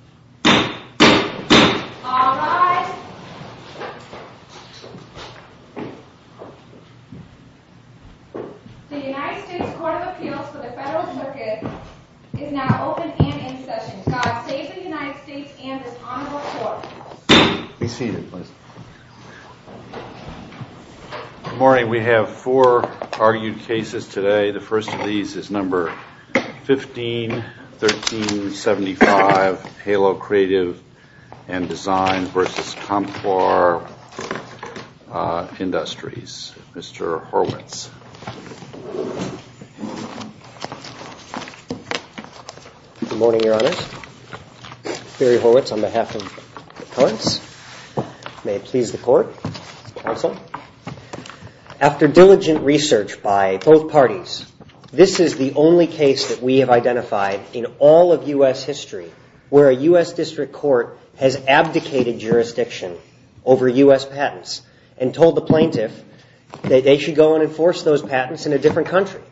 This is a video of the Comptoir des Indes Inc. in the U.S. in the United States. This is a video of the Comptoir des Indes Inc. This is a video of the Comptoir des Indes Inc. in the United States. This is a video of the Comptoir des Indes Inc. This is a video of the Comptoir des Indes Inc. in the United States. All rise. The United States Court of Appeals for the Federal Circuit is now open and in session. God save the United States and this honorable court. Be seated, please. Good morning. We have four argued cases today. The first of these is number 151375, Halo Creative and Design versus Comptoir Industries. Mr. Horwitz. Good morning, your honors. Gary Horwitz on behalf of the courts. May it please the court. Counsel. After diligent research by both parties, this is the only case that we have identified in all of U.S. history where a U.S. district court has abdicated jurisdiction over U.S. patents and told the plaintiff that they should go and enforce those patents in a different country.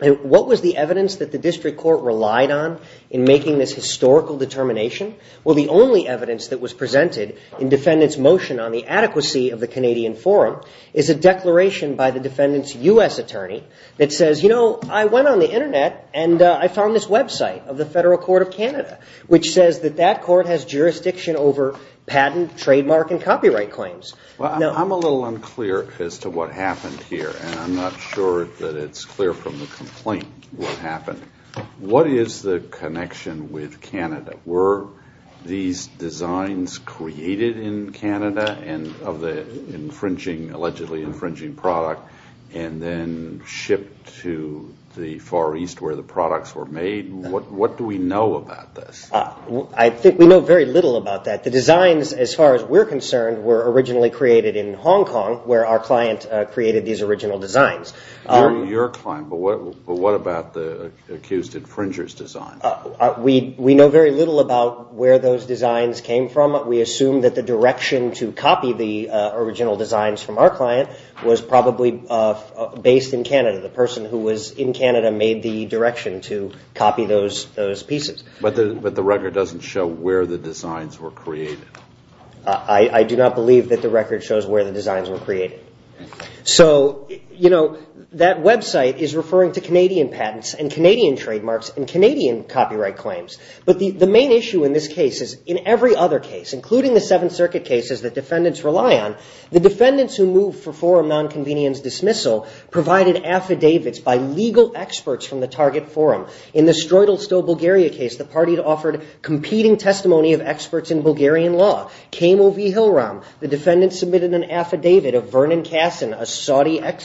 What was the evidence that the district court relied on in making this historical determination? Well, the only evidence that was presented in defendant's motion on the adequacy of the Canadian forum is a declaration by the defendant's U.S. attorney that says, you know, I went on the Internet and I found this website of the Federal Court of Canada, which says that that court has jurisdiction over patent, trademark, and copyright claims. I'm a little unclear as to what happened here, and I'm not sure that it's clear from the complaint what happened. What is the connection with Canada? Were these designs created in Canada of the infringing, allegedly infringing product, and then shipped to the Far East where the products were made? What do we know about this? I think we know very little about that. The designs, as far as we're concerned, were originally created in Hong Kong where our client created these original designs. Your client, but what about the accused infringer's design? We know very little about where those designs came from. We assume that the direction to copy the original designs from our client was probably based in Canada. The person who was in Canada made the direction to copy those pieces. But the record doesn't show where the designs were created. I do not believe that the record shows where the designs were created. So, you know, that website is referring to Canadian patents and Canadian trademarks and Canadian copyright claims. But the main issue in this case is, in every other case, including the Seventh Circuit cases that defendants rely on, the defendants who moved for forum nonconvenience dismissal provided affidavits by legal experts from the target forum. In the Stroytelstow, Bulgaria case, the party offered competing testimony of experts in Bulgarian law. Kamo v. Hilram, the defendants submitted an affidavit of Vernon Kassin,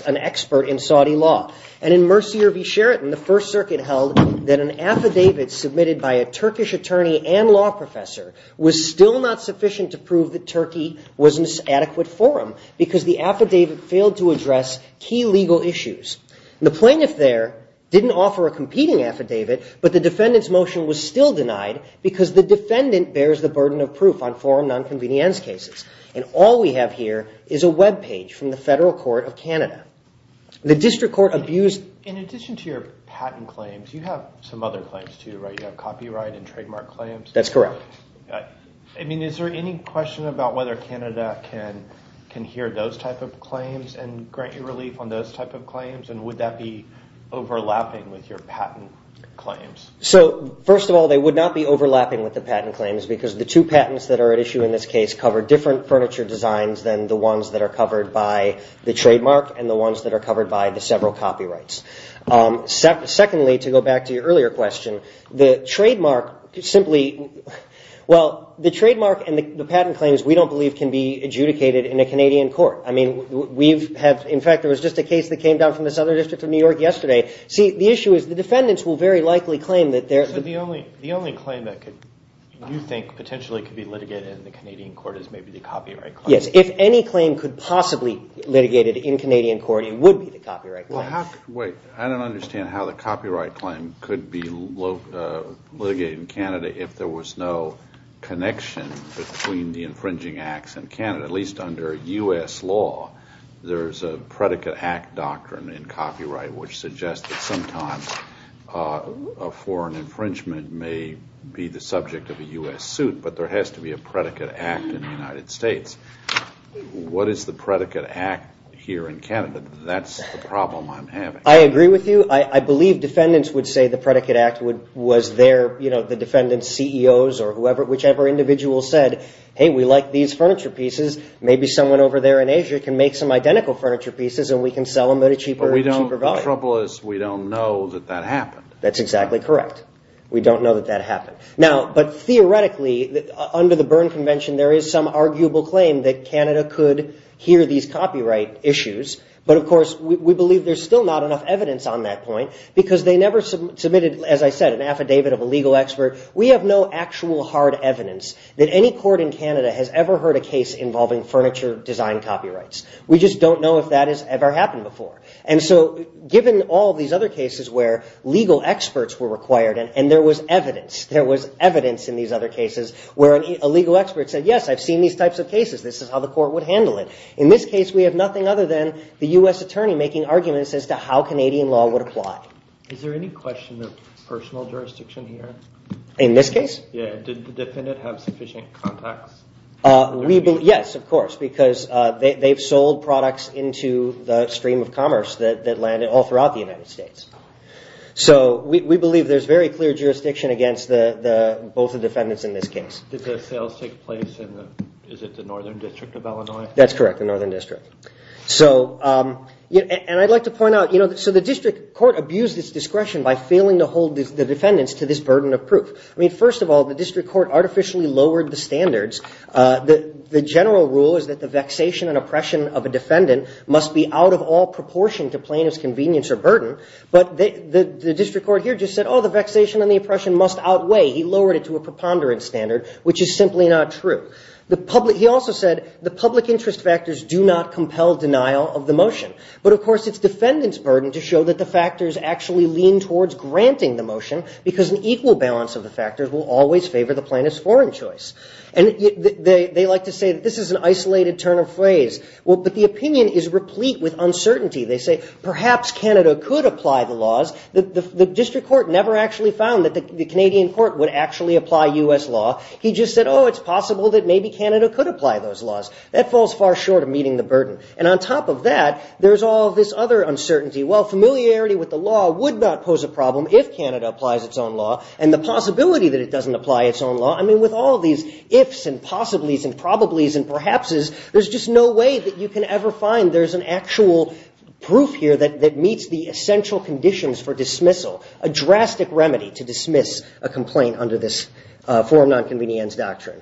an expert in Saudi law. And in Mercier v. Sheraton, the First Circuit held that an affidavit submitted by a Turkish attorney and law professor was still not sufficient to prove that Turkey was an inadequate forum because the affidavit failed to address key legal issues. The plaintiff there didn't offer a competing affidavit, but the defendant's motion was still denied because the defendant bears the burden of proof on forum nonconvenience cases. And all we have here is a webpage from the Federal Court of Canada. The district court abused... In addition to your patent claims, you have some other claims too, right? You have copyright and trademark claims. That's correct. I mean, is there any question about whether Canada can hear those type of claims and grant you relief on those type of claims? And would that be overlapping with your patent claims? So, first of all, they would not be overlapping with the patent claims because the two patents that are at issue in this case cover different furniture designs than the ones that are covered by the trademark and the ones that are covered by the several copyrights. Secondly, to go back to your earlier question, the trademark simply... Well, the trademark and the patent claims we don't believe can be adjudicated in a Canadian court. I mean, we've had... In fact, there was just a case that came down from the Southern District of New York yesterday. See, the issue is the defendants will very likely claim that they're... So the only claim that you think potentially could be litigated in the Canadian court is maybe the copyright claim? Yes, if any claim could possibly be litigated in Canadian court, it would be the copyright claim. Wait, I don't understand how the copyright claim could be litigated in Canada if there was no connection between the infringing acts in Canada. At least under U.S. law, there's a predicate act doctrine in copyright which suggests that sometimes a foreign infringement may be the subject of a U.S. suit, but there has to be a predicate act in the United States. What is the predicate act here in Canada? That's the problem I'm having. I agree with you. I believe defendants would say the predicate act was their... You know, the defendant's CEOs or whichever individual said, hey, we like these furniture pieces. Maybe someone over there in Asia can make some identical furniture pieces and we can sell them at a cheaper value. But the trouble is we don't know that that happened. That's exactly correct. We don't know that that happened. Now, but theoretically, under the Berne Convention, there is some arguable claim that Canada could hear these copyright issues. But, of course, we believe there's still not enough evidence on that point because they never submitted, as I said, an affidavit of a legal expert. We have no actual hard evidence that any court in Canada has ever heard a case involving furniture design copyrights. We just don't know if that has ever happened before. And so given all these other cases where legal experts were required and there was evidence, there was evidence in these other cases where a legal expert said, yes, I've seen these types of cases. This is how the court would handle it. In this case, we have nothing other than the U.S. attorney making arguments as to how Canadian law would apply. Is there any question of personal jurisdiction here? In this case? Yeah, did the defendant have sufficient contacts? Yes, of course, because they've sold products into the stream of commerce that landed all throughout the United States. So we believe there's very clear jurisdiction against both the defendants in this case. Did the sales take place in the northern district of Illinois? That's correct, the northern district. And I'd like to point out, so the district court abused its discretion by failing to hold the defendants to this burden of proof. I mean, first of all, the district court artificially lowered the standards. The general rule is that the vexation and oppression of a defendant must be out of all proportion to plaintiff's convenience or burden. But the district court here just said, oh, the vexation and the oppression must outweigh. He lowered it to a preponderance standard, which is simply not true. He also said the public interest factors do not compel denial of the motion. But, of course, it's defendant's burden to show that the factors actually lean towards granting the motion because an equal balance of the factors will always favor the plaintiff's foreign choice. And they like to say that this is an isolated turn of phrase. Well, but the opinion is replete with uncertainty. They say perhaps Canada could apply the laws. The district court never actually found that the Canadian court would actually apply U.S. law. He just said, oh, it's possible that maybe Canada could apply those laws. That falls far short of meeting the burden. And on top of that, there's all this other uncertainty. Well, familiarity with the law would not pose a problem if Canada applies its own law. And the possibility that it doesn't apply its own law, I mean, with all these ifs and possibles and probabilities and perhapses, there's just no way that you can ever find there's an actual proof here that meets the essential conditions for dismissal, a drastic remedy to dismiss a complaint under this forum nonconvenience doctrine.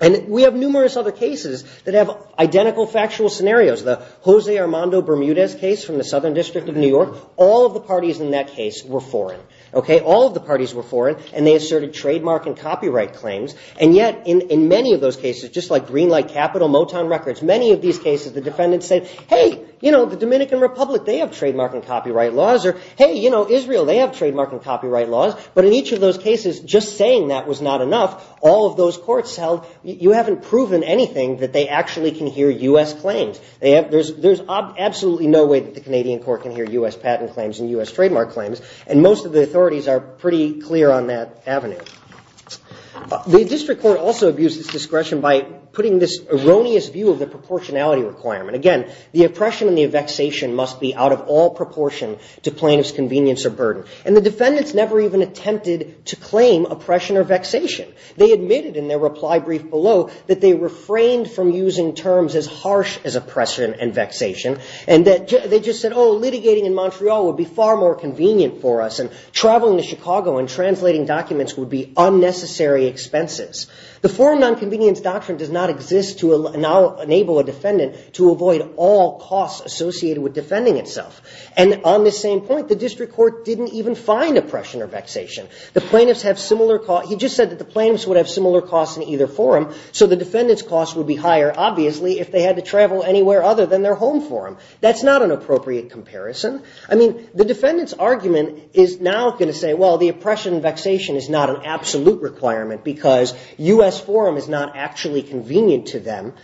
And we have numerous other cases that have identical factual scenarios. The Jose Armando Bermudez case from the Southern District of New York, all of the parties in that case were foreign. All of the parties were foreign, and they asserted trademark and copyright claims. And yet in many of those cases, just like Greenlight Capital, Motown Records, many of these cases the defendants said, hey, you know, the Dominican Republic, they have trademark and copyright laws. Or, hey, you know, Israel, they have trademark and copyright laws. But in each of those cases, just saying that was not enough. All of those courts held you haven't proven anything that they actually can hear U.S. claims. There's absolutely no way that the Canadian court can hear U.S. patent claims and U.S. trademark claims. And most of the authorities are pretty clear on that avenue. The district court also abused its discretion by putting this erroneous view of the proportionality requirement. Again, the oppression and the vexation must be out of all proportion to plaintiff's convenience or burden. And the defendants never even attempted to claim oppression or vexation. They admitted in their reply brief below that they refrained from using terms as harsh as oppression and vexation, and that they just said, oh, litigating in Montreal would be far more convenient for us, and traveling to Chicago and translating documents would be unnecessary expenses. The forum nonconvenience doctrine does not exist to enable a defendant to avoid all costs associated with defending itself. And on this same point, the district court didn't even find oppression or vexation. The plaintiffs have similar costs. He just said that the plaintiffs would have similar costs in either forum, so the defendant's costs would be higher, obviously, if they had to travel anywhere other than their home forum. That's not an appropriate comparison. I mean, the defendant's argument is now going to say, well, the oppression and vexation is not an absolute requirement because U.S. forum is not actually convenient to them,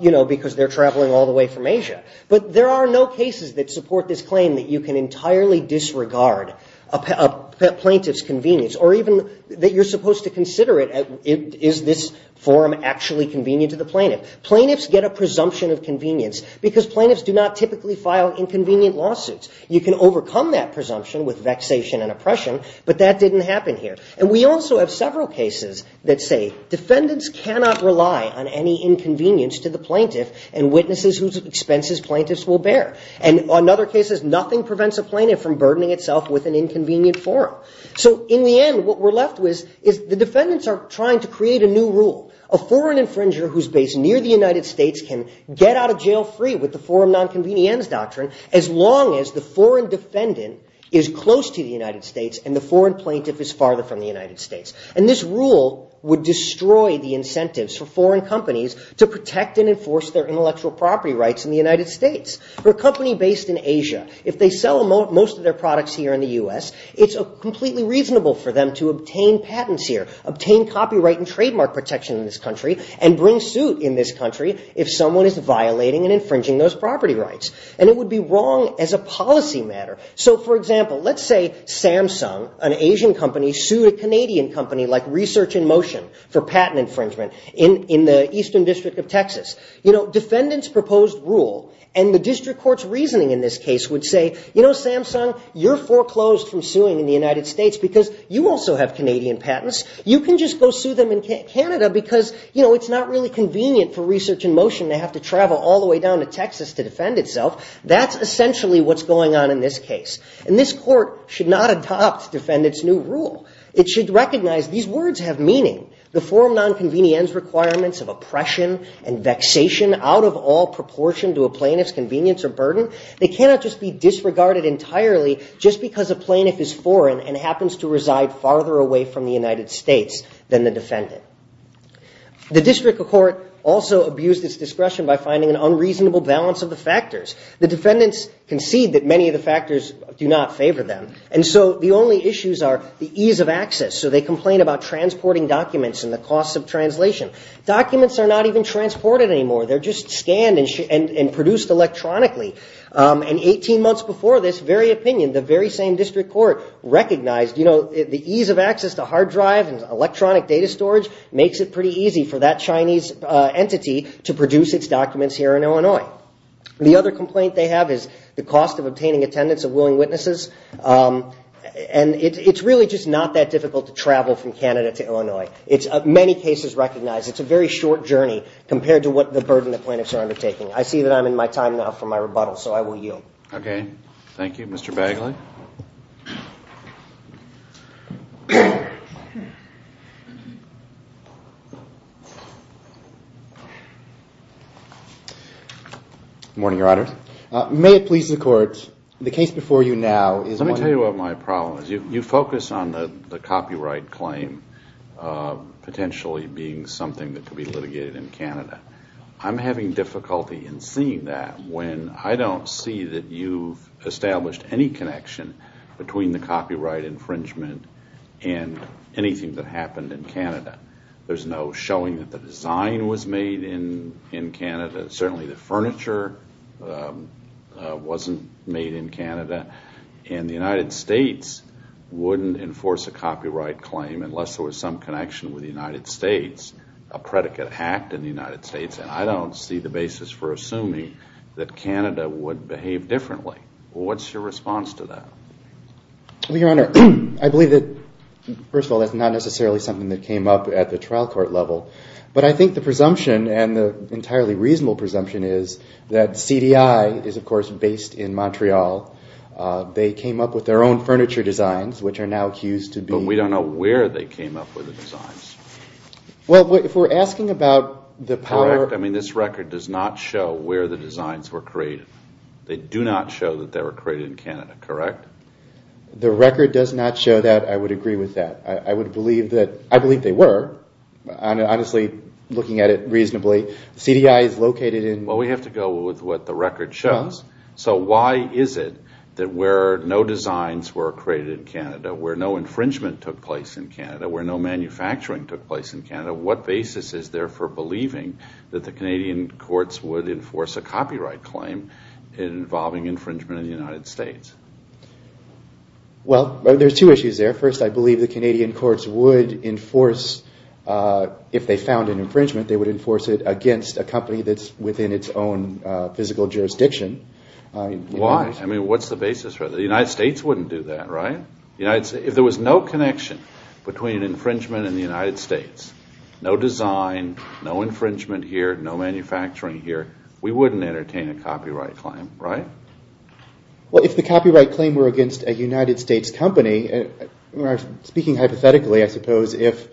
you know, because they're traveling all the way from Asia. But there are no cases that support this claim that you can entirely disregard a plaintiff's convenience, or even that you're supposed to consider it. Is this forum actually convenient to the plaintiff? Plaintiffs get a presumption of convenience because plaintiffs do not typically file inconvenient lawsuits. You can overcome that presumption with vexation and oppression, but that didn't happen here. And we also have several cases that say defendants cannot rely on any inconvenience to the plaintiff and witnesses whose expenses plaintiffs will bear. And another case is nothing prevents a plaintiff from burdening itself with an inconvenient forum. So in the end, what we're left with is the defendants are trying to create a new rule. A foreign infringer who's based near the United States can get out of jail free with the forum nonconvenience doctrine as long as the foreign defendant is close to the United States and the foreign plaintiff is farther from the United States. And this rule would destroy the incentives for foreign companies to protect and enforce their intellectual property rights in the United States. For a company based in Asia, if they sell most of their products here in the U.S., it's completely reasonable for them to obtain patents here, obtain copyright and trademark protection in this country, and bring suit in this country if someone is violating and infringing those property rights. And it would be wrong as a policy matter. So, for example, let's say Samsung, an Asian company, sued a Canadian company like Research in Motion for patent infringement in the eastern district of Texas. You know, defendants proposed rule, and the district court's reasoning in this case would say, you know, Samsung, you're foreclosed from suing in the United States because you also have Canadian patents. You can just go sue them in Canada because, you know, it's not really convenient for Research in Motion to have to travel all the way down to Texas to defend itself. That's essentially what's going on in this case. And this court should not adopt defendants' new rule. It should recognize these words have meaning. The forum nonconvenience requirements of oppression and vexation out of all proportion to a plaintiff's convenience or burden, they cannot just be disregarded entirely just because a plaintiff is foreign and happens to reside farther away from the United States than the defendant. The district court also abused its discretion by finding an unreasonable balance of the factors. The defendants concede that many of the factors do not favor them. And so the only issues are the ease of access. So they complain about transporting documents and the cost of translation. Documents are not even transported anymore. They're just scanned and produced electronically. And 18 months before this, very opinion, the very same district court recognized, you know, the ease of access to hard drive and electronic data storage makes it pretty easy for that Chinese entity to produce its documents here in Illinois. The other complaint they have is the cost of obtaining attendance of willing witnesses. And it's really just not that difficult to travel from Canada to Illinois. Many cases recognize it's a very short journey compared to what the burden the plaintiffs are undertaking. I see that I'm in my time now for my rebuttal, so I will yield. Okay, thank you. Mr. Bagley? Good morning, Your Honor. May it please the Court, the case before you now is one- Let me tell you what my problem is. You focus on the copyright claim potentially being something that could be litigated in Canada. I'm having difficulty in seeing that when I don't see that you've established any connection between the copyright infringement and anything that happened in Canada. There's no showing that the design was made in Canada. Certainly the furniture wasn't made in Canada. And the United States wouldn't enforce a copyright claim unless there was some connection with the United States, a predicate act in the United States. And I don't see the basis for assuming that Canada would behave differently. What's your response to that? Well, Your Honor, I believe that, first of all, that's not necessarily something that came up at the trial court level. But I think the presumption and the entirely reasonable presumption is that CDI is, of course, based in Montreal. They came up with their own furniture designs, which are now accused to be- But we don't know where they came up with the designs. Well, if we're asking about the power- Correct. I mean, this record does not show where the designs were created. They do not show that they were created in Canada, correct? The record does not show that. I would agree with that. I would believe that- I believe they were. Honestly, looking at it reasonably, CDI is located in- Well, we have to go with what the record shows. So why is it that where no designs were created in Canada, where no infringement took place in Canada, where no manufacturing took place in Canada, what basis is there for believing that the Canadian courts would enforce a copyright claim involving infringement in the United States? Well, there's two issues there. First, I believe the Canadian courts would enforce- if they found an infringement, they would enforce it against a company that's within its own physical jurisdiction. Why? I mean, what's the basis for that? The United States wouldn't do that, right? If there was no connection between an infringement and the United States, no design, no infringement here, no manufacturing here, we wouldn't entertain a copyright claim, right? Well, if the copyright claim were against a United States company, speaking hypothetically, I suppose, if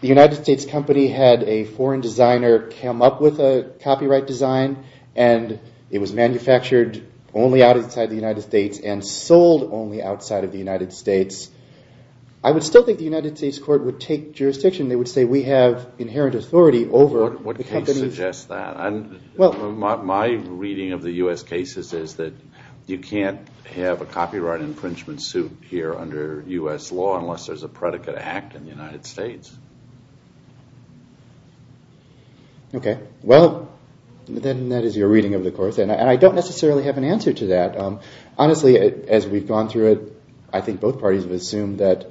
the United States company had a foreign designer come up with a copyright design and it was manufactured only outside the United States and sold only outside of the United States, I would still think the United States court would take jurisdiction. They would say we have inherent authority over the company's- What case suggests that? My reading of the U.S. cases is that you can't have a copyright infringement suit here under U.S. law unless there's a predicate act in the United States. Okay. Well, then that is your reading of the court. And I don't necessarily have an answer to that. Honestly, as we've gone through it, I think both parties have assumed that-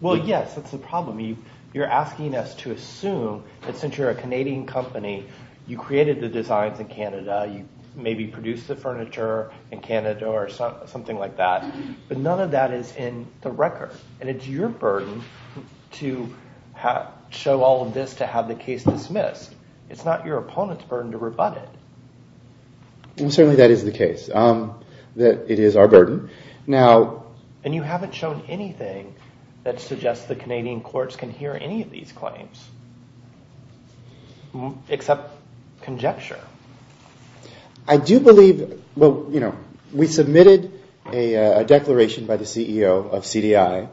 Well, yes, that's the problem. You're asking us to assume that since you're a Canadian company, you created the designs in Canada, you maybe produced the furniture in Canada or something like that. But none of that is in the record. And it's your burden to show all of this to have the case dismissed. It's not your opponent's burden to rebut it. Certainly, that is the case. It is our burden. And you haven't shown anything that suggests the Canadian courts can hear any of these claims except conjecture. I do believe- We submitted a declaration by the CEO of CDI.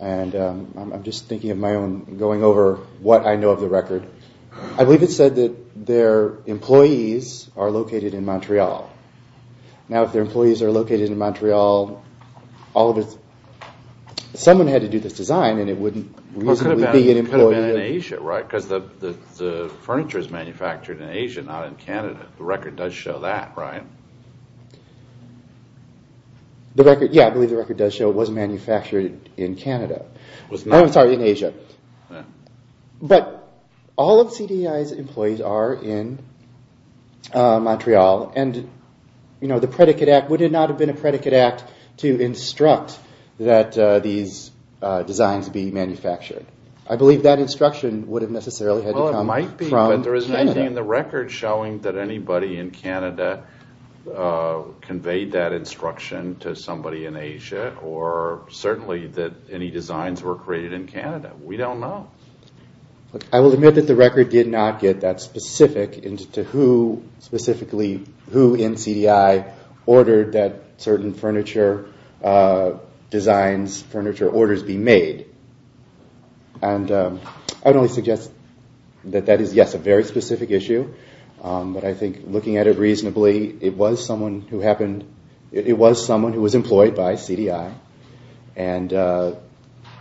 And I'm just thinking of my own, going over what I know of the record. I believe it said that their employees are located in Montreal. Now, if their employees are located in Montreal, someone had to do this design and it wouldn't reasonably be an employee- It could have been in Asia, right? Because the furniture is manufactured in Asia, not in Canada. The record does show that, right? Yeah, I believe the record does show it was manufactured in Canada. I'm sorry, in Asia. But all of CDI's employees are in Montreal. And the predicate act would not have been a predicate act to instruct that these designs be manufactured. I believe that instruction would have necessarily had to come from Canada. Well, it might be, but there isn't anything in the record showing that anybody in Canada conveyed that instruction to somebody in Asia or certainly that any designs were created in Canada. We don't know. I will admit that the record did not get that specific as to who specifically, who in CDI, ordered that certain furniture designs, furniture orders be made. And I would only suggest that that is, yes, a very specific issue. But I think looking at it reasonably, it was someone who happened- It was someone who was employed by CDI. And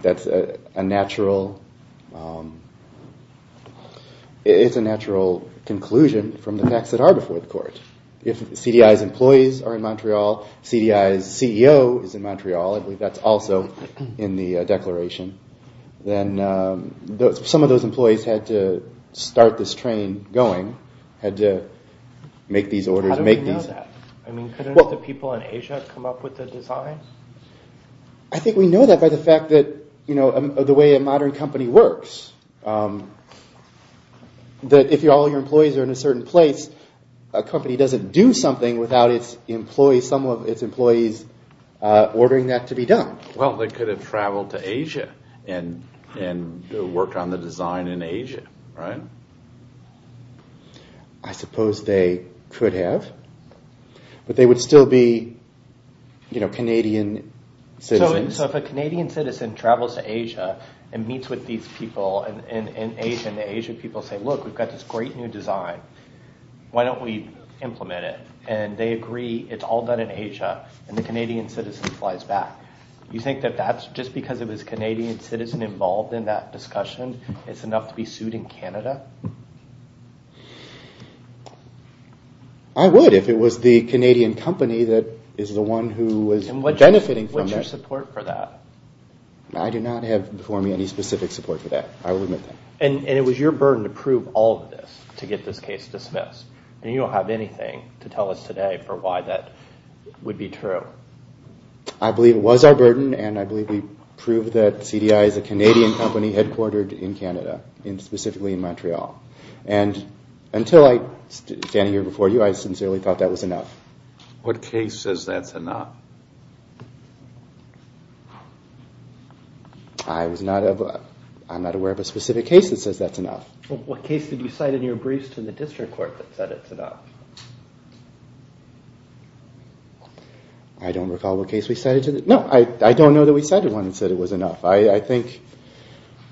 that's a natural conclusion from the facts that are before the court. If CDI's employees are in Montreal, CDI's CEO is in Montreal, I believe that's also in the declaration, then some of those employees had to start this train going, had to make these orders, make these- How do we know that? I mean, couldn't the people in Asia come up with the designs? I think we know that by the fact that, you know, the way a modern company works, that if all your employees are in a certain place, a company doesn't do something without its employees, some of its employees ordering that to be done. Well, they could have traveled to Asia and worked on the design in Asia, right? I suppose they could have, but they would still be, you know, Canadian citizens. So if a Canadian citizen travels to Asia and meets with these people in Asia, and the Asian people say, look, we've got this great new design, why don't we implement it? And they agree, it's all done in Asia, and the Canadian citizen flies back. You think that that's just because it was a Canadian citizen involved in that discussion, it's enough to be sued in Canada? I would if it was the Canadian company that is the one who was benefiting from that. And what's your support for that? I do not have before me any specific support for that, I will admit that. And it was your burden to prove all of this, to get this case dismissed, and you don't have anything to tell us today for why that would be true. I believe it was our burden, and I believe we proved that CDI is a Canadian company headquartered in Canada, specifically in Montreal. And until I'm standing here before you, I sincerely thought that was enough. What case says that's enough? I'm not aware of a specific case that says that's enough. What case did you cite in your briefs to the district court that said it's enough? I don't recall what case we cited. No, I don't know that we cited one that said it was enough. I think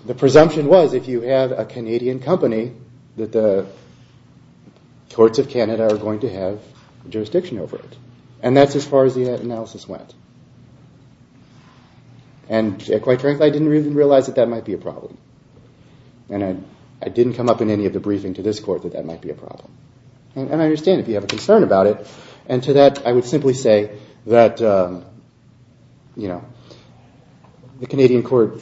the presumption was if you have a Canadian company, that the courts of Canada are going to have jurisdiction over it. And that's as far as the analysis went. And quite frankly, I didn't even realize that that might be a problem. And I didn't come up in any of the briefing to this court that that might be a problem. And I understand if you have a concern about it. And to that, I would simply say that the Canadian court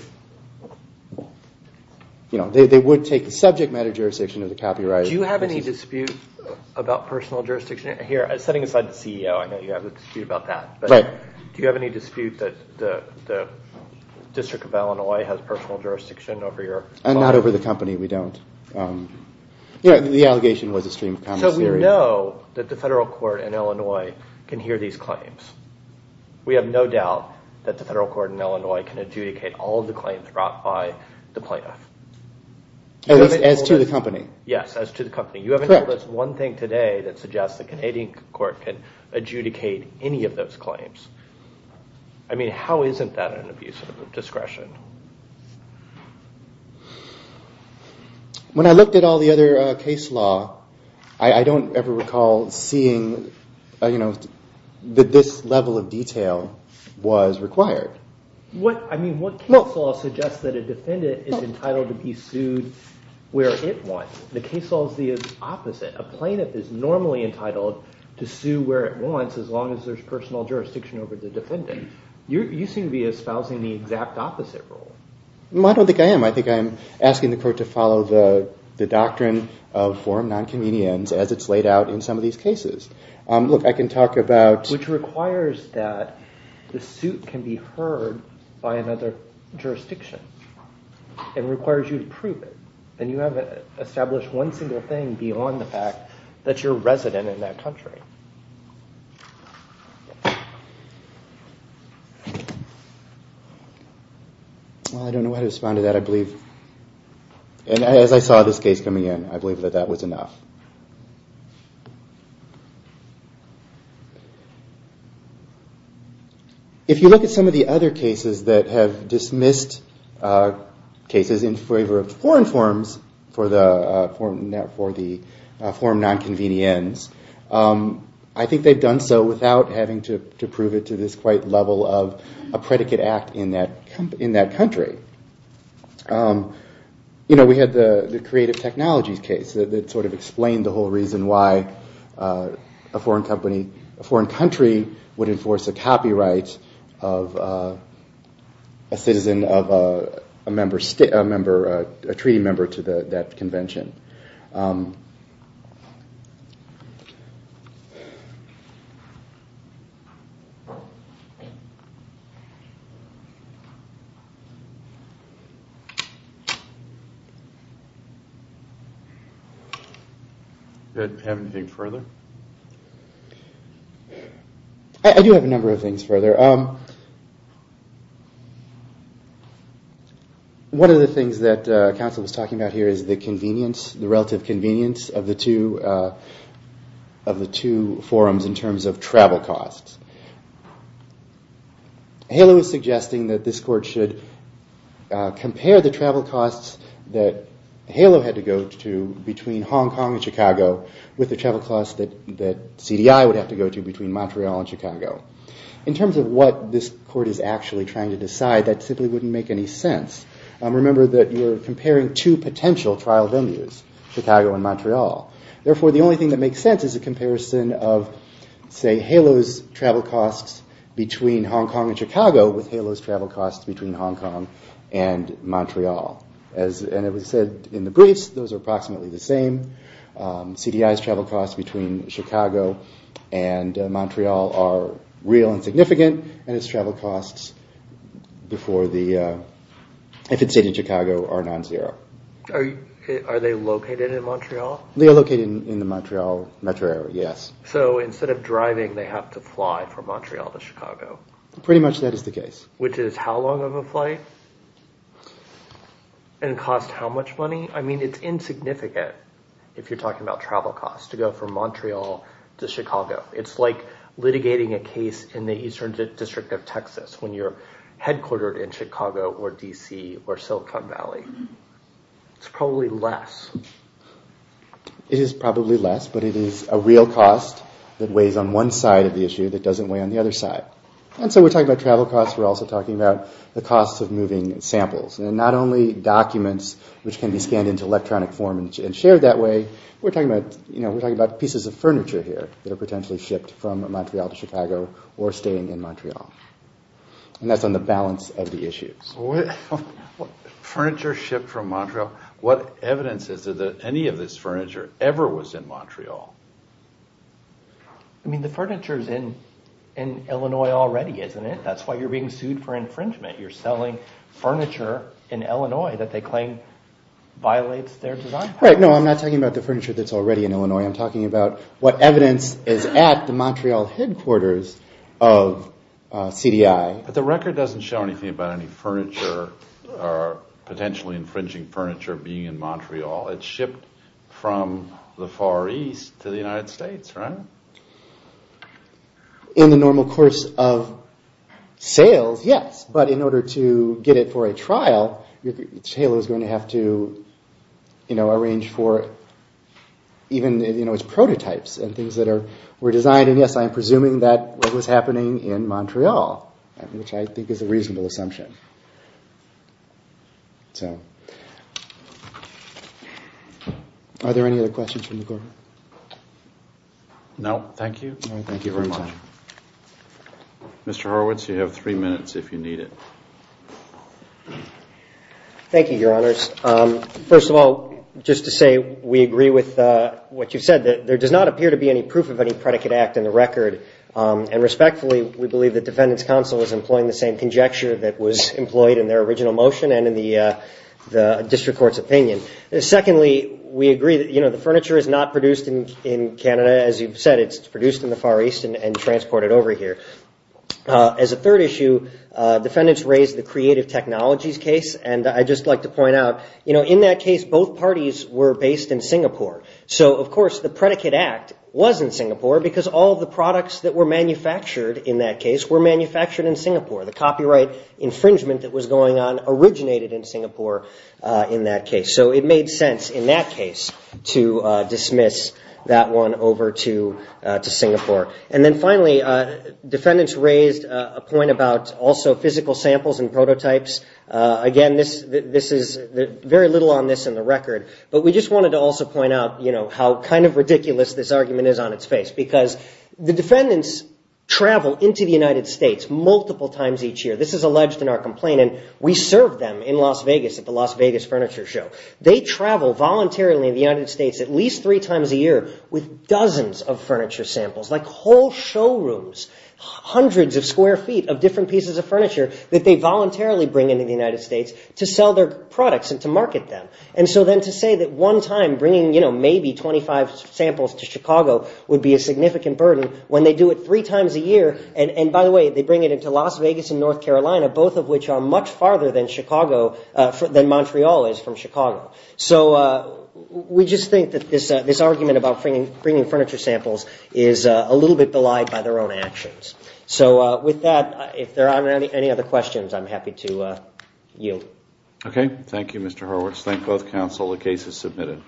would take the subject matter jurisdiction of the copyright. Do you have any dispute about personal jurisdiction here? Setting aside the CEO, I know you have a dispute about that. Do you have any dispute that the District of Illinois has personal jurisdiction over your law? Not over the company, we don't. The allegation was a stream of common theory. So we know that the federal court in Illinois can hear these claims. We have no doubt that the federal court in Illinois can adjudicate all of the claims brought by the plaintiff. At least as to the company. Yes, as to the company. You haven't told us one thing today that suggests the Canadian court can adjudicate any of those claims. I mean, how isn't that an abuse of discretion? When I looked at all the other case law, I don't ever recall seeing that this level of detail was required. What case law suggests that a defendant is entitled to be sued where it wants? The case law is the opposite. A plaintiff is normally entitled to sue where it wants as long as there's personal jurisdiction over the defendant. You seem to be espousing the exact opposite. I don't think I am. I think I'm asking the court to follow the doctrine of forum nonconvenience as it's laid out in some of these cases. Look, I can talk about... Which requires that the suit can be heard by another jurisdiction. It requires you to prove it. And you haven't established one single thing beyond the fact that you're a resident in that country. I don't know how to respond to that. As I saw this case coming in, I believe that that was enough. If you look at some of the other cases that have dismissed cases in favor of foreign forms for the forum nonconvenience, I think they've done so without having to prove it to this quite level of a predicate act in that country. We had the creative technologies case that sort of explained the whole reason why a foreign country would enforce a copyright of a citizen of a treaty member to that convention. Thank you. Do you have anything further? I do have a number of things further. One of the things that counsel was talking about here is the convenience, the relative convenience, of the two forums in terms of travel costs. HALO is suggesting that this court should compare the travel costs that HALO had to go to between Hong Kong and Chicago with the travel costs that CDI would have to go to between Montreal and Chicago. In terms of what this court is actually trying to decide, that simply wouldn't make any sense. Remember that you are comparing two potential trial venues, Chicago and Montreal. Therefore, the only thing that makes sense is a comparison of, say, HALO's travel costs between Hong Kong and Chicago with HALO's travel costs between Hong Kong and Montreal. As was said in the briefs, those are approximately the same. CDI's travel costs between Chicago and Montreal are real and significant and its travel costs if it's in Chicago are non-zero. Are they located in Montreal? They are located in the Montreal metro area, yes. So instead of driving, they have to fly from Montreal to Chicago. Which is how long of a flight and cost how much money? It's insignificant if you're talking about travel costs to go from Montreal to Chicago. It's like litigating a case in the eastern district of Texas when you're headquartered in Chicago or D.C. or Silicon Valley. It's probably less. It is probably less, but it is a real cost that weighs on one side of the issue that doesn't weigh on the other side. And so we're talking about travel costs, we're also talking about the costs of moving samples. And not only documents which can be scanned into electronic form and shared that way, we're talking about pieces of furniture here that are potentially shipped from Montreal to Chicago or staying in Montreal. And that's on the balance of the issues. Furniture shipped from Montreal? What evidence is there that any of this furniture ever was in Montreal? I mean the furniture is in Illinois already, isn't it? That's why you're being sued for infringement. You're selling furniture in Illinois that they claim violates their design policy. Right, no, I'm not talking about the furniture that's already in Illinois. I'm talking about what evidence is at the Montreal headquarters of CDI. But the record doesn't show anything about any furniture or potentially infringing furniture being in Montreal. It's shipped from the Far East to the United States, right? In the normal course of sales, yes, but in order to get it for a trial, Taylor's going to have to arrange for even its prototypes and things that were designed. And yes, I'm presuming that was happening in Montreal, which I think is a reasonable assumption. Are there any other questions from the court? No, thank you. Mr. Horowitz, you have three minutes if you need it. Thank you, Your Honors. First of all, just to say we agree with what you said, that there does not appear to be any proof of any predicate act in the record. And respectfully, we believe that Defendant's Counsel is employing the same conjecture that was employed in their original motion and in the District Court's opinion. Secondly, we agree that the furniture is not produced in Canada. As you've said, it's produced in the Far East and transported over here. As a third issue, Defendants raised the Creative Technologies case, and I'd just like to point out, in that case, both parties were based in Singapore. So, of course, the predicate act was in Singapore because all of the products that were manufactured in that case were manufactured in Singapore. The copyright infringement that was going on originated in Singapore in that case. So it made sense in that case to dismiss that one over to Singapore. And then finally, Defendants raised a point about also physical samples and prototypes. Again, this is very little on this in the record, but we just wanted to also point out, you know, how kind of ridiculous this argument is on its face because the Defendants travel into the United States multiple times each year. This is alleged in our complaint, and we serve them in Las Vegas at the Las Vegas Furniture Show. They travel voluntarily in the United States at least three times a year with dozens of furniture samples, like whole showrooms, hundreds of square feet of different pieces of furniture that they voluntarily bring into the United States to sell their products and to market them. And so then to say that one time bringing, you know, both of which are much farther than Chicago, than Montreal is from Chicago. So we just think that this argument about bringing furniture samples is a little bit belied by their own actions. So with that, if there aren't any other questions, I'm happy to yield. Okay. Thank you, Mr. Horowitz. Thank both counsel. The case is submitted.